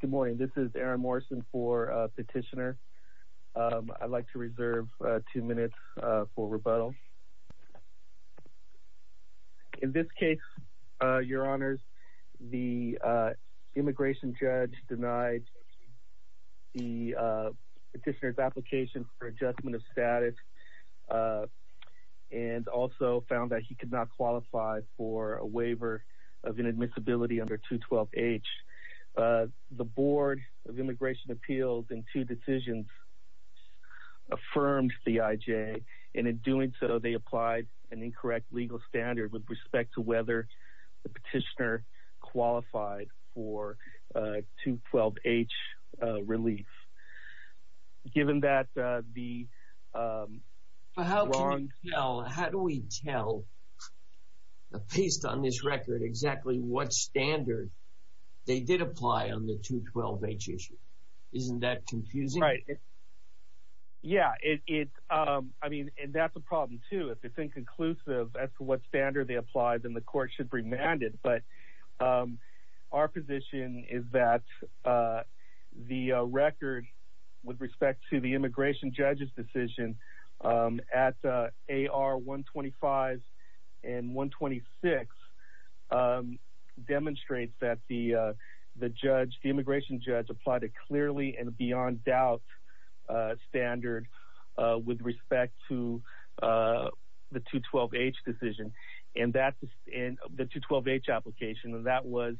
Good morning, this is Aaron Morrison for Petitioner. I'd like to reserve two minutes for rebuttal. In this case, your honors, the immigration judge denied the petitioner's application for adjustment of status and also found that he could not qualify for a waiver of inadmissibility under 212H. The Board of Immigration Appeals in two decisions affirmed the IJ, and in doing so, they applied an incorrect legal standard with respect to whether the petitioner qualified for 212H relief. Given that, the wrong... standard, they did apply on the 212H issue. Isn't that confusing? Right. Yeah, it's... I mean, and that's a problem, too. If it's inconclusive as to what standard they applied, then the court should remand it. But our position is that the record with respect to the immigration judge's decision at AR 125 and 126 demonstrates that the judge, the immigration judge, applied a clearly and beyond doubt standard with respect to the 212H decision and that... the 212H application, and that was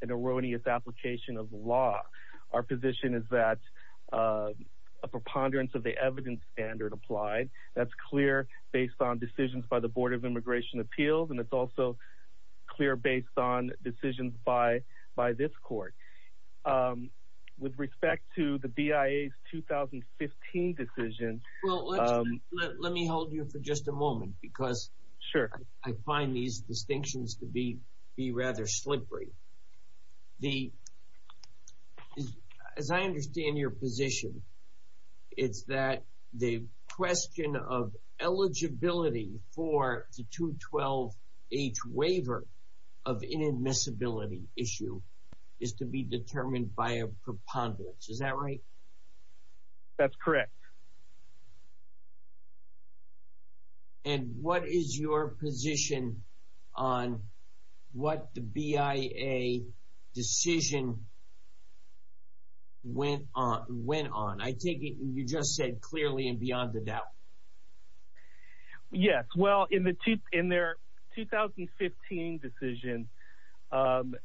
an erroneous application of law. Our position is that a preponderance of the evidence standard applied. That's clear based on decisions by the Board of Immigration Appeals, and it's also clear based on decisions by this court. With respect to the BIA's 2015 decision... Well, let's... let me hold you for just a moment because... Sure. I find these distinctions to be rather slippery. The... as I understand your position, it's that the question of eligibility for the 212H waiver of inadmissibility issue is to be determined by a preponderance. Is that right? That's correct. Okay. And what is your position on what the BIA decision went on? I take it you just said clearly and beyond the doubt. Yes. Well, in their 2015 decision,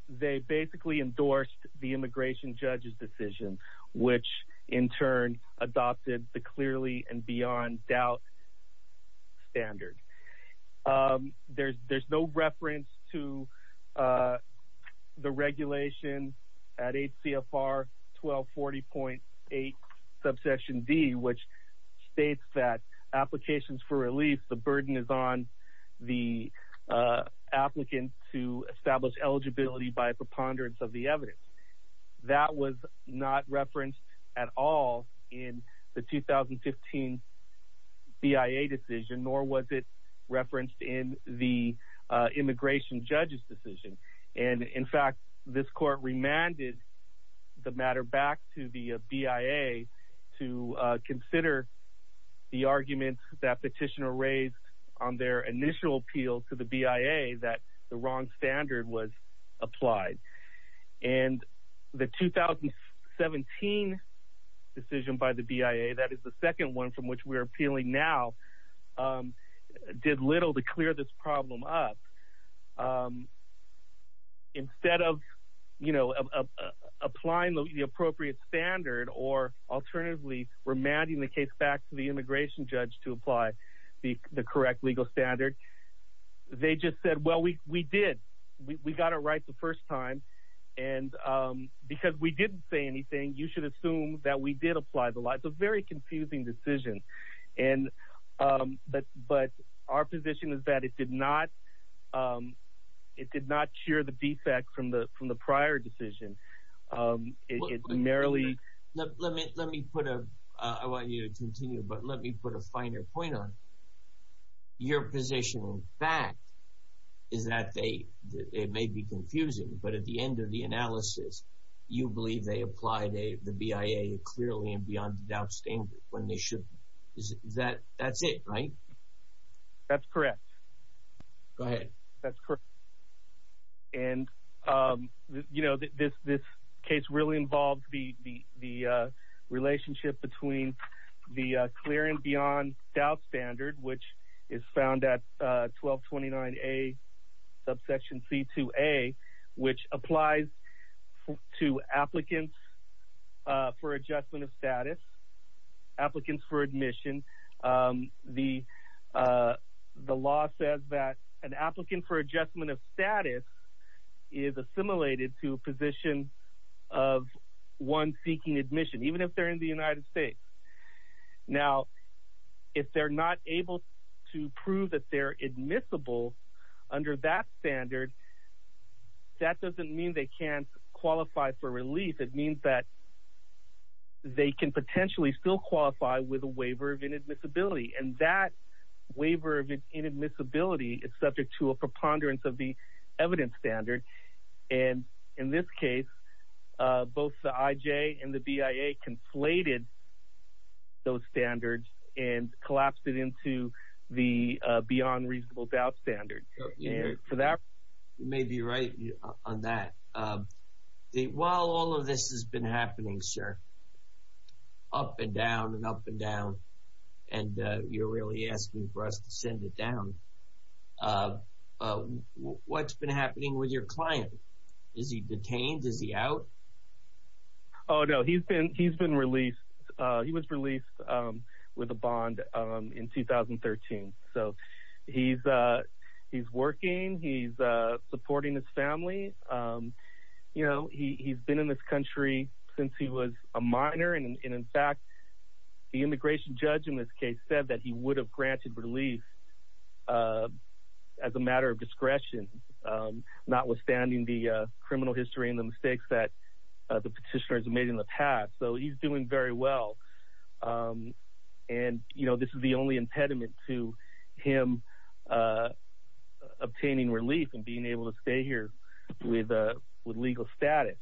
they basically endorsed the immigration judge's decision, which in turn adopted the clearly and beyond doubt standard. There's no reference to the regulation at HCFR 1240.8, subsection D, which states that applications for release, the burden is on the applicant to establish eligibility by a preponderance of the evidence. That was not referenced at all in the 2015 BIA decision, nor was it referenced in the immigration judge's decision. And in fact, this court remanded the matter back to the BIA to consider the argument that petitioner raised on their initial appeal to the BIA that the wrong standard was applied. And the 2017 decision by the BIA, that is the second one from which we're appealing now, did little to clear this problem up. Instead of applying the appropriate standard or alternatively remanding the case back to the immigration judge to apply the correct legal standard, they just said, well, we did. We got it right the first time. And because we didn't say anything, you should assume that we did apply the law. It's a very confusing decision. But our position is that it did not share the defects from the prior decision. It merely... I want you to continue, but let me put a finer point on it. Your position, in fact, is that it may be confusing, but at the end of the analysis, you believe they applied the BIA clearly and beyond the doubt standard when they should. That's it, right? That's correct. Go ahead. That's correct. And, you know, this case really involved the relationship between the clear and beyond doubt standard, which is found at 1229A, subsection C2A, which applies to applicants for adjustment of status, applicants for admission. The law says that an applicant for adjustment of status is assimilated to a position of one seeking admission, even if they're in the United States. Now, if they're not able to prove that they're admissible under that standard, that doesn't mean they can't qualify for release. It means that they can potentially still qualify with a waiver of inadmissibility. And that waiver of inadmissibility is subject to a preponderance of the evidence standard. And in this case, both the IJ and the BIA conflated those standards and collapsed it into the beyond reasonable doubt standard. And for that, you may be right on that. While all of this has been happening, sir, up and down and up and down, and you're really asking for us to send it down. What's been happening with your client? Is he detained? Is he out? Oh, no. He's been released. He was released with a bond in 2013. So he's working. He's supporting his family. You know, he's been in this country since he was a minor. And in fact, the immigration judge in this case said that he would have granted relief as a matter of discretion, notwithstanding the criminal history and the mistakes that the petitioners made in the past. So he's doing very well. And, you know, this is the only impediment to him obtaining relief and being able to stay here with legal status.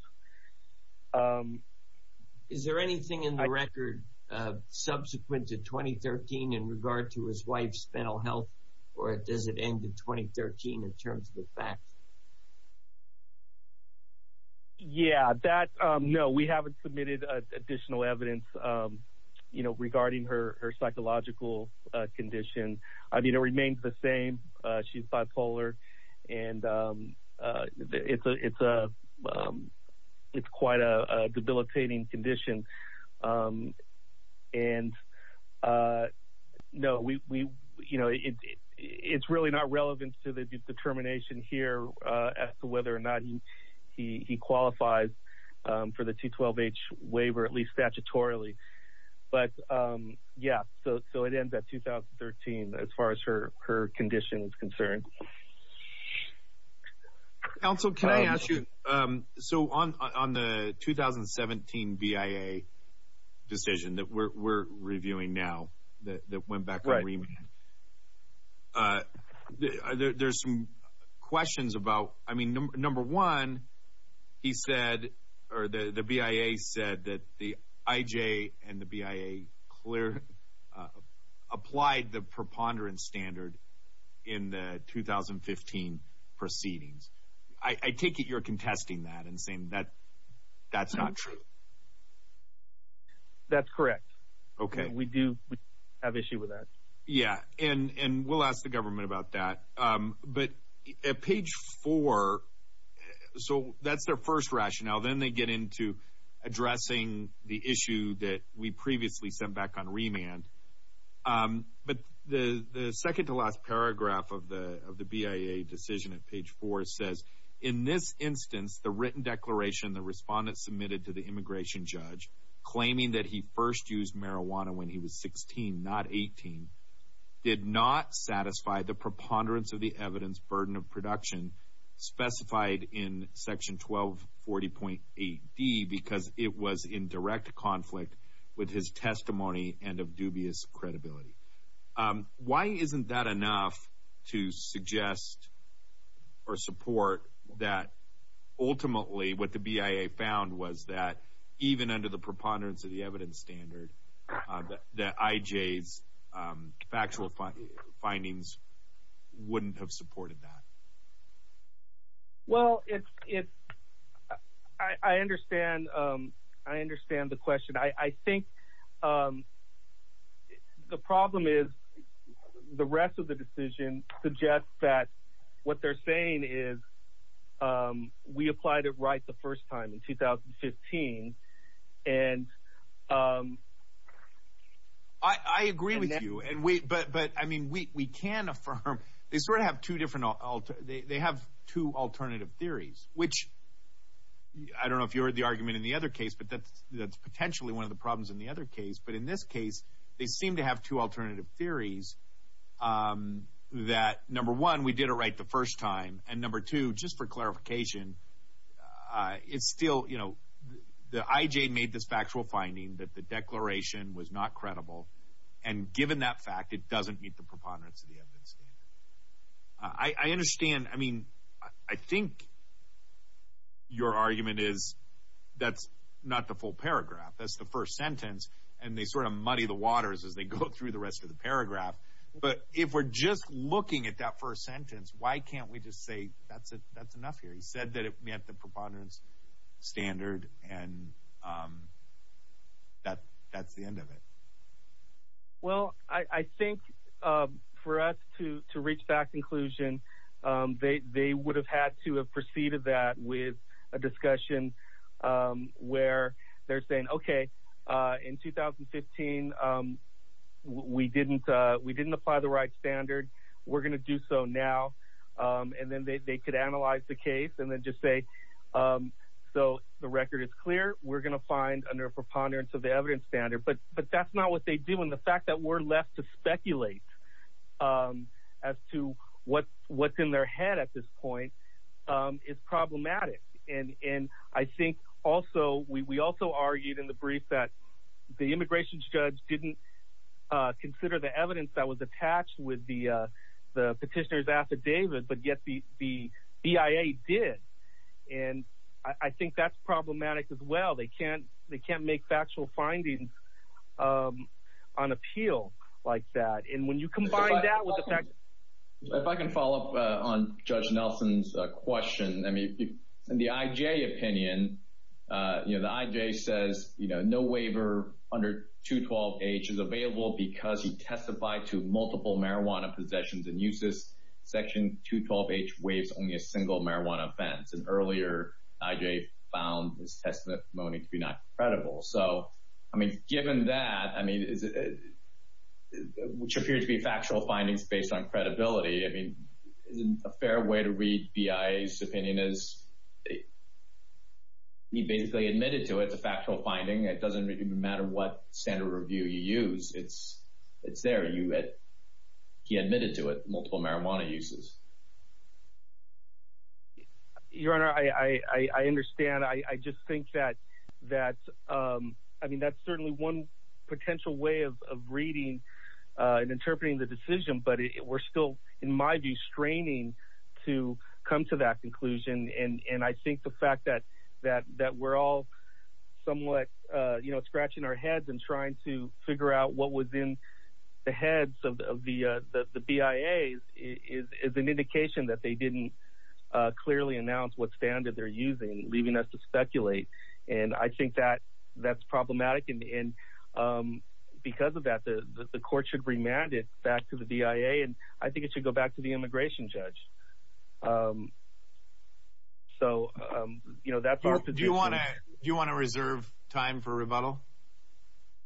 Is there anything in the record subsequent to 2013 in regard to his wife's mental health, or does it end in 2013 in terms of the facts? Yeah, that, no, we haven't submitted additional evidence, you know, regarding her psychological condition. I mean, it remains the same. She's bipolar. And it's quite a debilitating condition. And no, we, you know, it's really not relevant to the determination here as to whether or not he qualifies for the 212H waiver, at least statutorily. But yeah, so it ends at 2013 as far as her condition is concerned. Counsel, can I ask you, so on the 2017 BIA decision that we're reviewing now that went back to the Supreme Court, there's some questions about, I mean, number one, he said, or the BIA said that the IJ and the BIA clear, applied the preponderance standard in the 2015 proceedings. I take it you're contesting that and saying that that's not true. That's correct. Okay. We do have issue with that. Yeah. And we'll ask the government about that. But at page four, so that's their first rationale. Then they get into addressing the issue that we previously sent back on remand. But the second to last paragraph of the BIA decision at page four says, in this instance, the written declaration the respondent submitted to the immigration judge, claiming that he first used marijuana when he was 16, not 18, did not satisfy the preponderance of the evidence burden of production specified in section 1240.8D because it was in direct conflict with his testimony and of dubious credibility. Why isn't that enough to suggest or support that ultimately what the BIA found was that even under the preponderance of the evidence standard that IJ's factual findings wouldn't have supported that? Well, I understand the question. I think the problem is the rest of the decision suggests that what they're saying is we applied it right the first time in 2015 and I agree with you. But I mean, we can affirm, they sort of have two different, they have two alternative theories, which I don't know if you heard the argument in the other case, but that's potentially one of the problems in the other case. But in this case, they seem to have two alternative theories that, number one, we did it right the first time and, number two, just for clarification, it's still, you know, the IJ made this factual finding that the declaration was not credible and given that fact, it doesn't meet the preponderance of the evidence standard. I understand, I mean, I think your argument is that's not the full paragraph, that's the first sentence, and they sort of muddy the waters as they go through the rest of the paragraph. But if we're just looking at that first sentence, why can't we just say that's enough here? He said that it met the preponderance standard and that's the end of it. Well, I think for us to reach that conclusion, they would have had to have proceeded that with a discussion where they're saying, okay, in 2015, we didn't apply the right standard, we're going to do so now. And then they could analyze the case and then just say, so the record is clear, we're going to find under a preponderance of the evidence standard. But that's not what they do. And the fact that we're left to speculate as to what's in their head at this point is problematic. And I think also, we also argued in the brief that the immigration judge didn't consider the evidence that was attached with the petitioner's affidavit, but yet the BIA did. And I think that's problematic as well. They can't make factual findings on appeal like that. And when you combine that with the fact... If I can follow up on Judge Nelson's question, I mean, in the IJ opinion, you know, the IJ says, you know, no waiver under 212H is available because he testified to multiple marijuana possessions and uses Section 212H waives only a single marijuana offense. And earlier, IJ found his testimony to be not credible. So, I mean, given that, I mean, which appears to be factual findings based on credibility, I mean, isn't a fair way to read BIA's opinion is he basically admitted to it, the factual finding. It doesn't even matter what standard review you use. It's there. He admitted to it, multiple marijuana uses. Your Honor, I understand. I just think that, I mean, that's certainly one potential way of reading and interpreting the decision, but we're still, in my view, straining to come to that conclusion. And I think the fact that we're all somewhat, you know, scratching our heads and trying to figure out what was in the heads of the BIA is an indication that they didn't clearly announce what standard they're using, leaving us to speculate. And I think because of that, the Court should remand it back to the BIA, and I think it should go back to the immigration judge. So, you know, that's our position. Do you want to reserve time for rebuttal?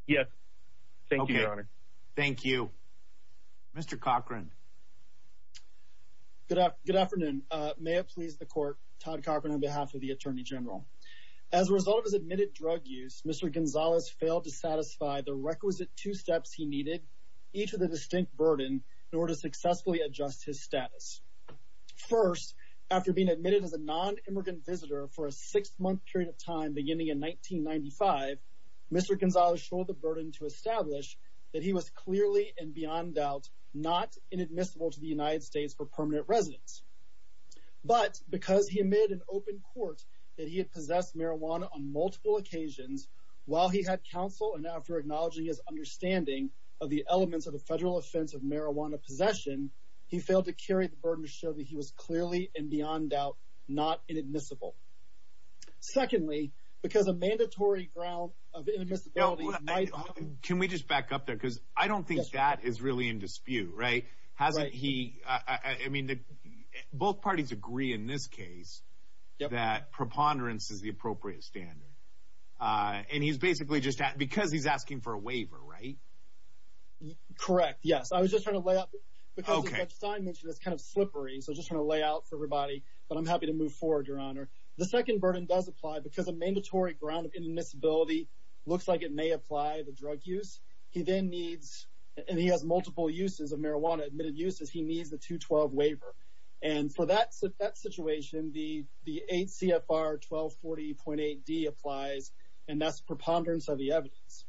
Yes. Thank you, Your Honor. Thank you. Mr. Cochran. Good afternoon. May it please the Court, Todd Cochran, on behalf of the Attorney General. As a result of his admitted drug use, Mr. Gonzalez failed to satisfy the requisite two steps he needed, each with a distinct burden, in order to successfully adjust his status. First, after being admitted as a non-immigrant visitor for a six-month period of time, beginning in 1995, Mr. Gonzalez showed the burden to establish that he was clearly, and beyond doubt, not inadmissible to the United States for permanent residence. But because he admitted in open court that he had possessed marijuana on multiple occasions, while he had counsel, and after acknowledging his understanding of the elements of the federal offense of marijuana possession, he failed to carry the burden to show that he was clearly, and beyond doubt, not inadmissible. Secondly, because a mandatory ground of inadmissibility... Can we just back up there? Because I don't think that is really in dispute, right? Hasn't he... I mean, both parties agree in this case that preponderance is the appropriate standard. And he's basically just asking... Because he's asking for a waiver, right? Correct, yes. I was just trying to lay out... Because as Judge Stein mentioned, it's kind of slippery, so I'm just trying to lay out for everybody, but I'm happy to move forward, Your Honor. The second burden does apply because a mandatory ground of inadmissibility looks like it may apply to drug use. He then needs, and he has multiple uses of marijuana, admitted uses, he needs the 212 waiver. And for that situation, the 8 CFR 1240.8D applies, and that's preponderance of the evidence.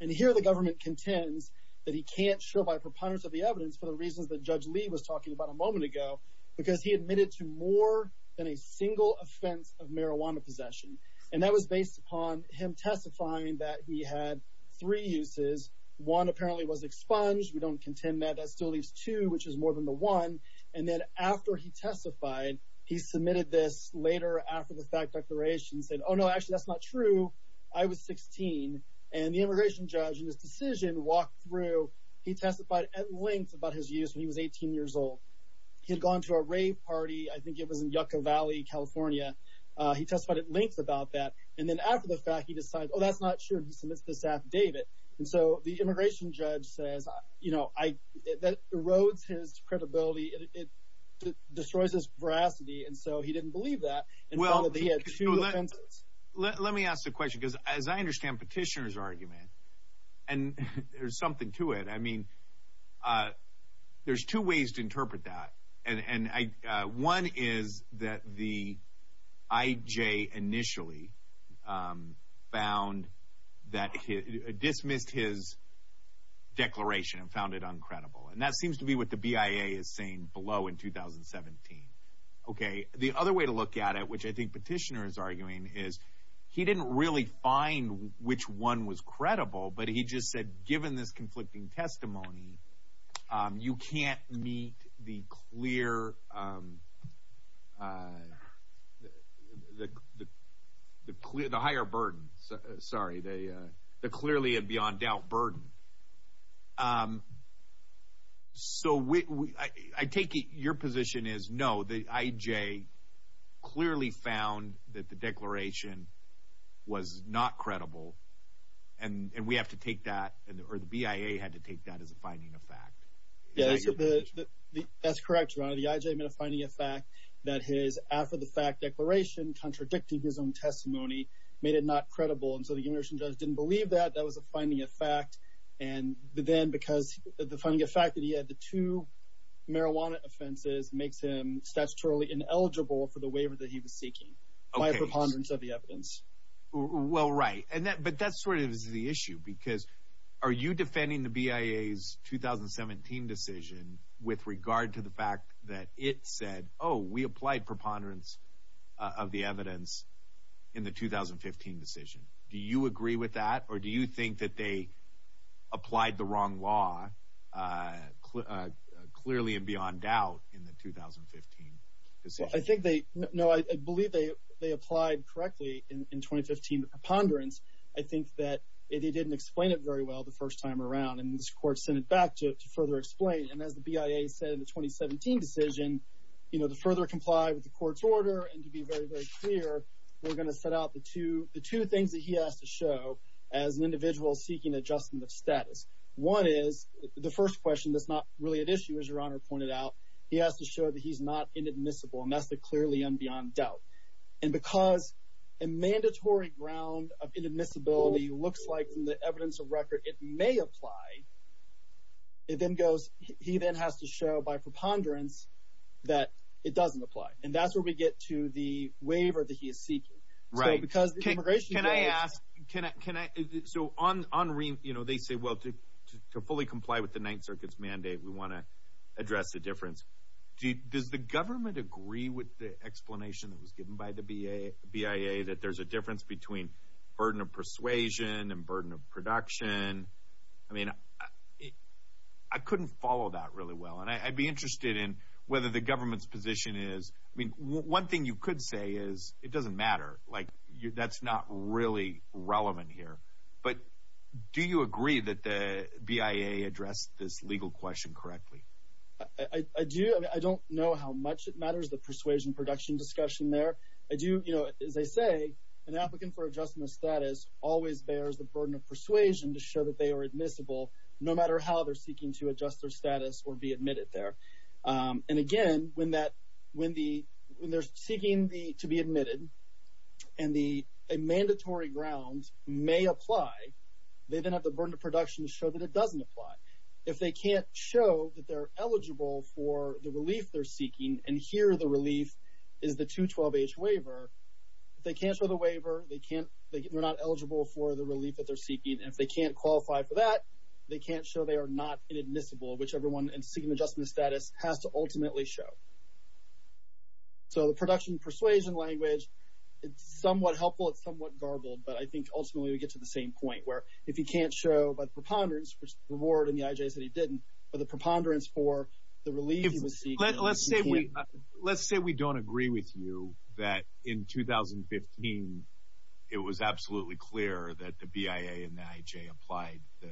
And here the government contends that he can't show by preponderance of the evidence for the reasons that Judge Lee was talking about a moment ago, because he admitted to more than a single offense of marijuana possession. And that was based upon him testifying that he had three uses, one apparently was expunged, we don't contend that, that still leaves two, which is more than the one. And then after he testified, he submitted this later after the fact declaration, he said, oh no, actually that's not true, I was 16. And the immigration judge in his decision walked through, he testified at length about his use when he was 18 years old. He had gone to a rave party, I think it was in Yucca Valley, California. He testified at length about that. And then after the fact, he decided, oh, that's not true, and he submits this affidavit. And so the immigration judge says, you know, that erodes his credibility, it destroys his veracity, and so he didn't believe that, and he had two offenses. Let me ask the question, because as I understand Petitioner's argument, and there's something to it, I mean, there's two ways to interpret that. And one is that the IJ initially found that, dismissed his declaration and found it uncredible, and that seems to be what the BIA is saying below in 2017. Okay, the other way to look at it, which I think Petitioner is arguing, is he didn't really find which one was credible, but he just said, given this conflicting testimony, you can't meet the clear, the higher burden, sorry, the clearly and beyond doubt burden. So I take it your position is, no, the IJ clearly found that the declaration was not credible, and we have to take that, or the BIA had to take that as a finding of fact. Yeah, that's correct, your honor. The IJ made a finding of fact that his after-the-fact declaration contradicting his own testimony made it not credible, and so the immigration judge didn't believe that. That was a finding of fact, and then because the finding of fact that he had the two marijuana offenses makes him statutorily ineligible for the waiver that he was seeking by a preponderance of the evidence. Well, right, but that's sort of the issue, because are you defending the BIA's 2017 decision with regard to the fact that it said, oh, we applied preponderance of the evidence in the 2015 decision? Do you agree with that, or do you think that they applied the wrong law clearly and beyond doubt in the 2015 decision? I think they, no, I believe they applied correctly in 2015 preponderance. I think that they didn't explain it very well the first time around, and this court sent it back to further explain, and as the BIA said in the 2017 decision, you know, to further comply with the court's order and to be very, very clear, we're going to set out the two, the two things that he has to show as an individual seeking adjustment of status. One is the first question that's not really at issue, as your honor pointed out. He has to show that he's not inadmissible, and that's the clearly and beyond doubt, and because a mandatory ground of inadmissibility looks like from the evidence of record it may apply, it then goes, he then has to show by preponderance that it doesn't apply, and that's where we get to the waiver that he is seeking. Right. Can I ask, so on, you know, they say, well, to fully comply with the Ninth Circuit's mandate, we want to address the difference. Does the government agree with the explanation that was given by the BIA that there's a difference between burden of persuasion and burden of production? I mean, I couldn't follow that really well, and I'd be interested in whether the government's position is, I mean, one thing you could say is it doesn't matter, like that's not really relevant here, but do you agree that the BIA addressed this legal question correctly? I do. I mean, I don't know how much it matters, the persuasion production discussion there. I do, you know, as I say, an applicant for adjustment of status always bears the burden of persuasion to show that they are admissible no matter how they're seeking to adjust their status or be admitted there. And again, when they're seeking to be admitted and a mandatory ground may apply, they then have the burden of production to show that it doesn't apply. If they can't show that they're eligible for the relief they're seeking, and here the relief is the 212H waiver, if they can't show the waiver, they're not eligible for the relief that they're seeking. And if they can't qualify for that, they can't show they are not inadmissible, which everyone in seeking adjustment of status has to ultimately show. So the production persuasion language, it's somewhat helpful, it's somewhat garbled, but I think ultimately we get to the same point, where if you can't show by preponderance, which the ward and the IJs said he didn't, but the preponderance for the relief he was seeking. Let's say we don't agree with you that in 2015 it was absolutely clear that the BIA and the IJ applied the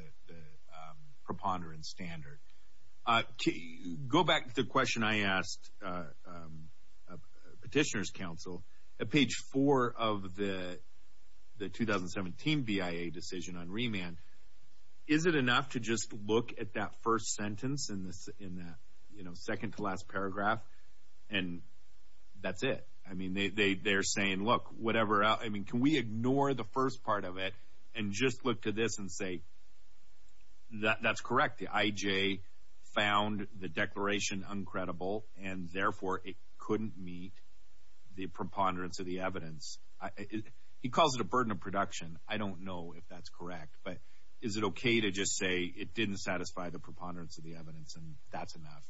preponderance standard. To go back to the question I asked Petitioner's Council, at page four of the 2017 BIA decision on remand, is it enough to just look at that first sentence in the second to last paragraph and that's it? I mean, they're saying, look, can we ignore the first part of it and just look to this and say, that's correct, the IJ found the declaration uncredible and therefore it couldn't meet the preponderance of the evidence. He calls it a burden of production, I don't know if that's correct, but is it okay to just say it didn't satisfy the preponderance of the evidence and that's enough,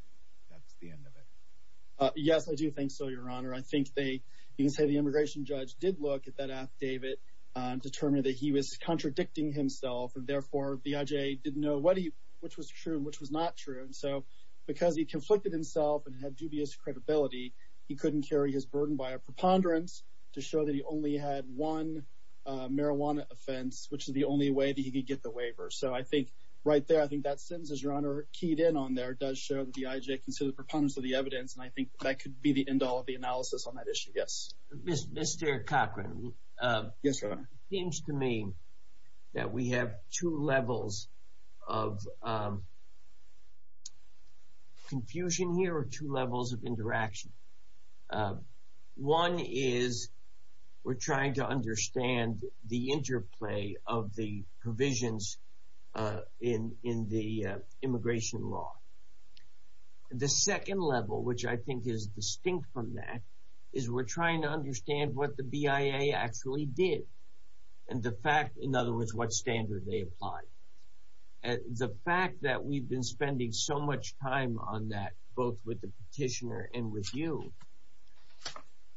that's the end of it? Yes, I do think so, your honor. I think they, you can say the immigration judge did look at that affidavit and determined that he was contradicting himself and therefore the IJ didn't know what he, which was true and which was not true. And so because he conflicted himself and had dubious credibility, he couldn't carry his burden by a preponderance to show that he only had one marijuana offense, which is the only way that he could get the waiver. So I think right there, I think that sentence, as your honor keyed in on there, does show that the IJ considered preponderance of the evidence and I think that could be the end all of the analysis on that issue, yes. Mr. Cochran. Yes, your honor. It seems to me that we have two levels of confusion here or two levels of interaction. One is we're trying to understand the interplay of the provisions in the immigration law. The second level, which I think is distinct from that, is we're trying to understand what the BIA actually did and the fact, in other words, what standard they applied. The fact that we've been spending so much time on that, both with the petitioner and with you,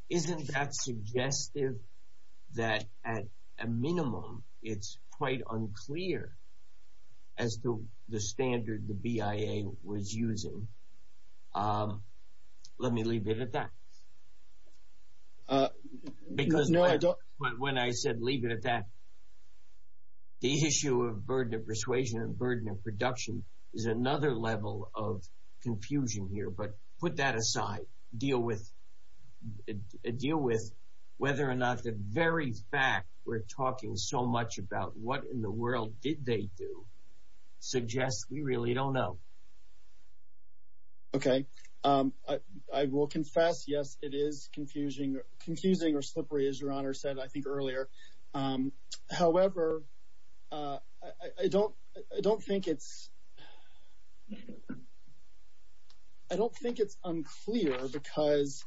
isn't that suggestive that at a minimum, it's quite unclear as to the standard the BIA was using? Let me leave it at that. Because when I said leave it at that, the issue of burden of persuasion and burden of production is another level of confusion here. But put that aside. Deal with whether or not the very fact we're talking so much about what in the world did they do suggests we really don't know. Okay. I will confess, yes, it is confusing or slippery, as your honor said, I think, earlier. However, I don't think it's unclear because,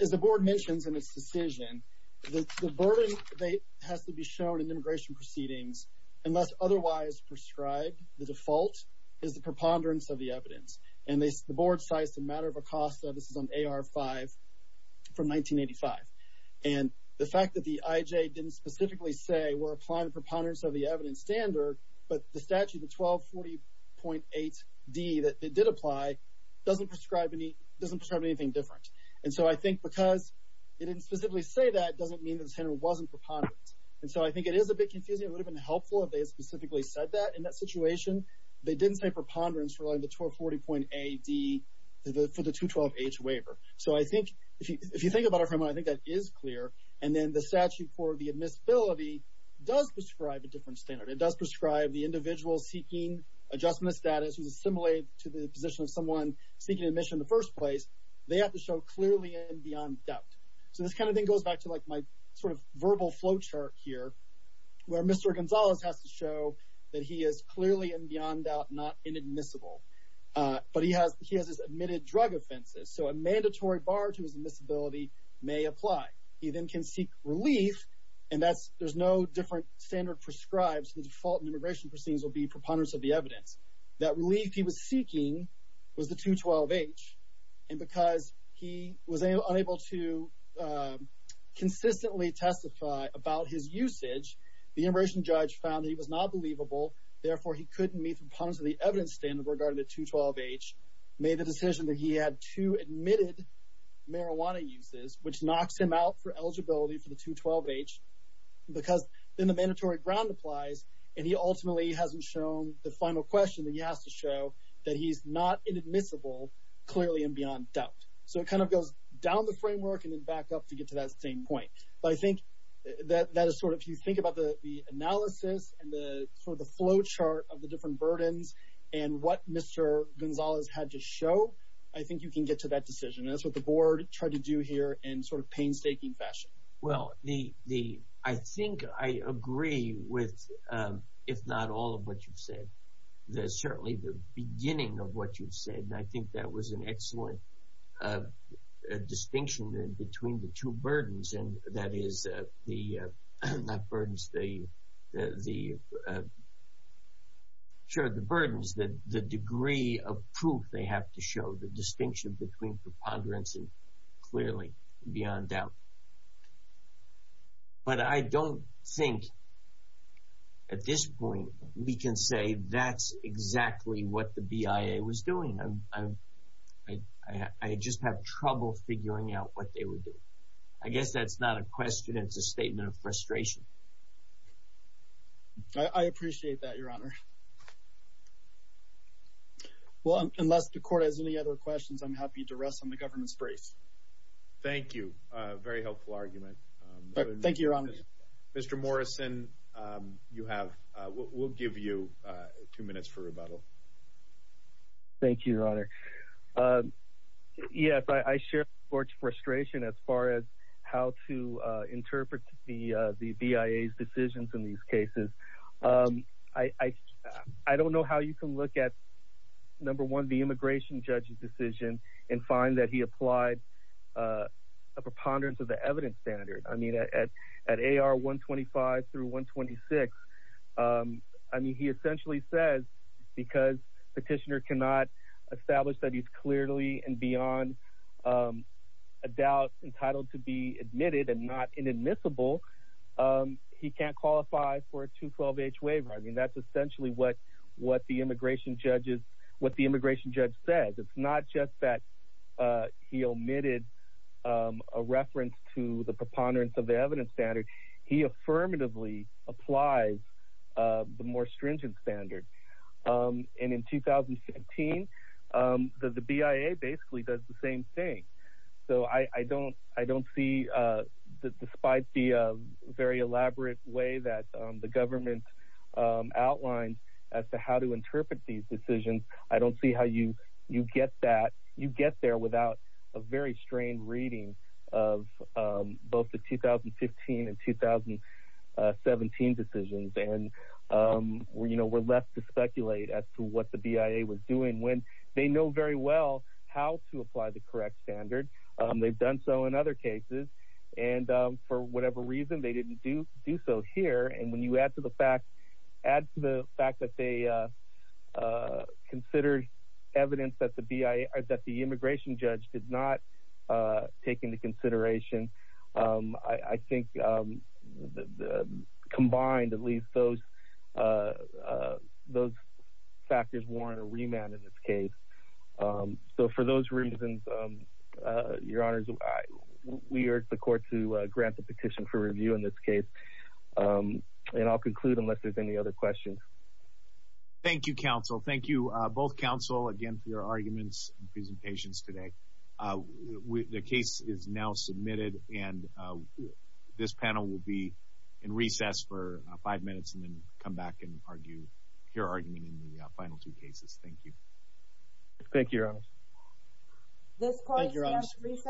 as the board mentions in its decision, the burden that has to be shown in immigration proceedings, unless otherwise prescribed, the default is the preponderance of the evidence. And the board cites the matter of ACOSTA, this is on AR5, from 1985. And the fact that the IJ didn't specifically say, we're applying the preponderance of the evidence standard, but the statute, the 1240.8d that they did apply, doesn't prescribe anything different. And so I think because they didn't specifically say that doesn't mean the standard wasn't preponderant. And so I think it is a bit confusing. It would have been helpful if they had specifically said that. In that situation, they didn't say preponderance for like the 1240.8d for the 212H waiver. So I think, if you think about it for a moment, I think that is clear. And then the statute for the admissibility does prescribe a different standard. It does prescribe the individual seeking adjustment status who's assimilated to the position of someone seeking admission in the first place, they have to show clearly and beyond doubt. So this kind of thing goes back to like my verbal flowchart here, where Mr. Gonzalez has to show that he is clearly and beyond doubt not inadmissible. But he has his admitted drug offenses. So a mandatory bar to his admissibility may apply. He then can seek relief. And that's, there's no different standard prescribes. The default in immigration proceedings will be preponderance of the evidence. That relief he was seeking was the 212H. And because he was unable to consistently testify about his usage, the immigration judge found that he was not believable. Therefore, he couldn't meet the preponderance of the evidence standard regarding the 212H, made the decision that he had two admitted marijuana uses, which knocks him out for eligibility for the 212H. Because then the that he's not inadmissible, clearly and beyond doubt. So it kind of goes down the framework and then back up to get to that same point. But I think that that is sort of if you think about the analysis and the sort of the flowchart of the different burdens, and what Mr. Gonzalez had to show, I think you can get to that decision. That's what the board tried to do here in sort of painstaking fashion. Well, the the I think I agree with, if not all of what you've said, there's certainly the beginning of what you've said. And I think that was an excellent distinction in between the two burdens. And that is the not burdens, the the sure the burdens that the degree of proof they have to show the distinction between preponderance clearly beyond doubt. But I don't think at this point, we can say that's exactly what the BIA was doing. I just have trouble figuring out what they would do. I guess that's not a question. It's a statement of frustration. I appreciate that, Your Honor. Well, unless the court has any other questions, I'm happy to rest on the government's brace. Thank you. Very helpful argument. Thank you, Your Honor. Mr. Morrison, you have, we'll give you two minutes for rebuttal. Thank you, Your Honor. Yes, I share the court's frustration as far as how to interpret the the BIA's decisions in these cases. I don't know how you can look at, number one, the immigration judge's decision and find that he applied a preponderance of the evidence standard. I mean, at AR 125 through 126, I mean, he essentially says because petitioner cannot establish that he's clearly and beyond a doubt entitled to be admitted and not inadmissible, he can't qualify for a 212-H waiver. I mean, that's essentially what the immigration judges, what the immigration judge says. It's not just that he omitted a reference to the preponderance of the evidence standard. He affirmatively applies the more stringent standard. And in 2017, the BIA basically does the same thing. So I don't see, despite the very elaborate way that the government outlines as to how to interpret these decisions, I don't see how you get that, you get there without a very strained reading of both the 2015 and 2017 decisions. And, you know, we're left to speculate as to what the BIA was doing when they know very well how to apply the correct standard. They've done so in other cases. And for whatever reason, they didn't do so here. And when you add to the fact that they considered evidence that the immigration judge did not take into consideration, I think combined at least those factors warrant a remand in this case. So for those reasons, your honors, we urge the court to grant the petition for review in this case. And I'll conclude unless there's any other questions. Thank you, counsel. Thank you, both counsel, again, for your arguments and presentations today. The case is now submitted and this panel will be in recess for five minutes and then come back and argue your argument in the final two cases. Thank you. Thank you, your honors. Thank you, your honors. This court is now in recess for five minutes.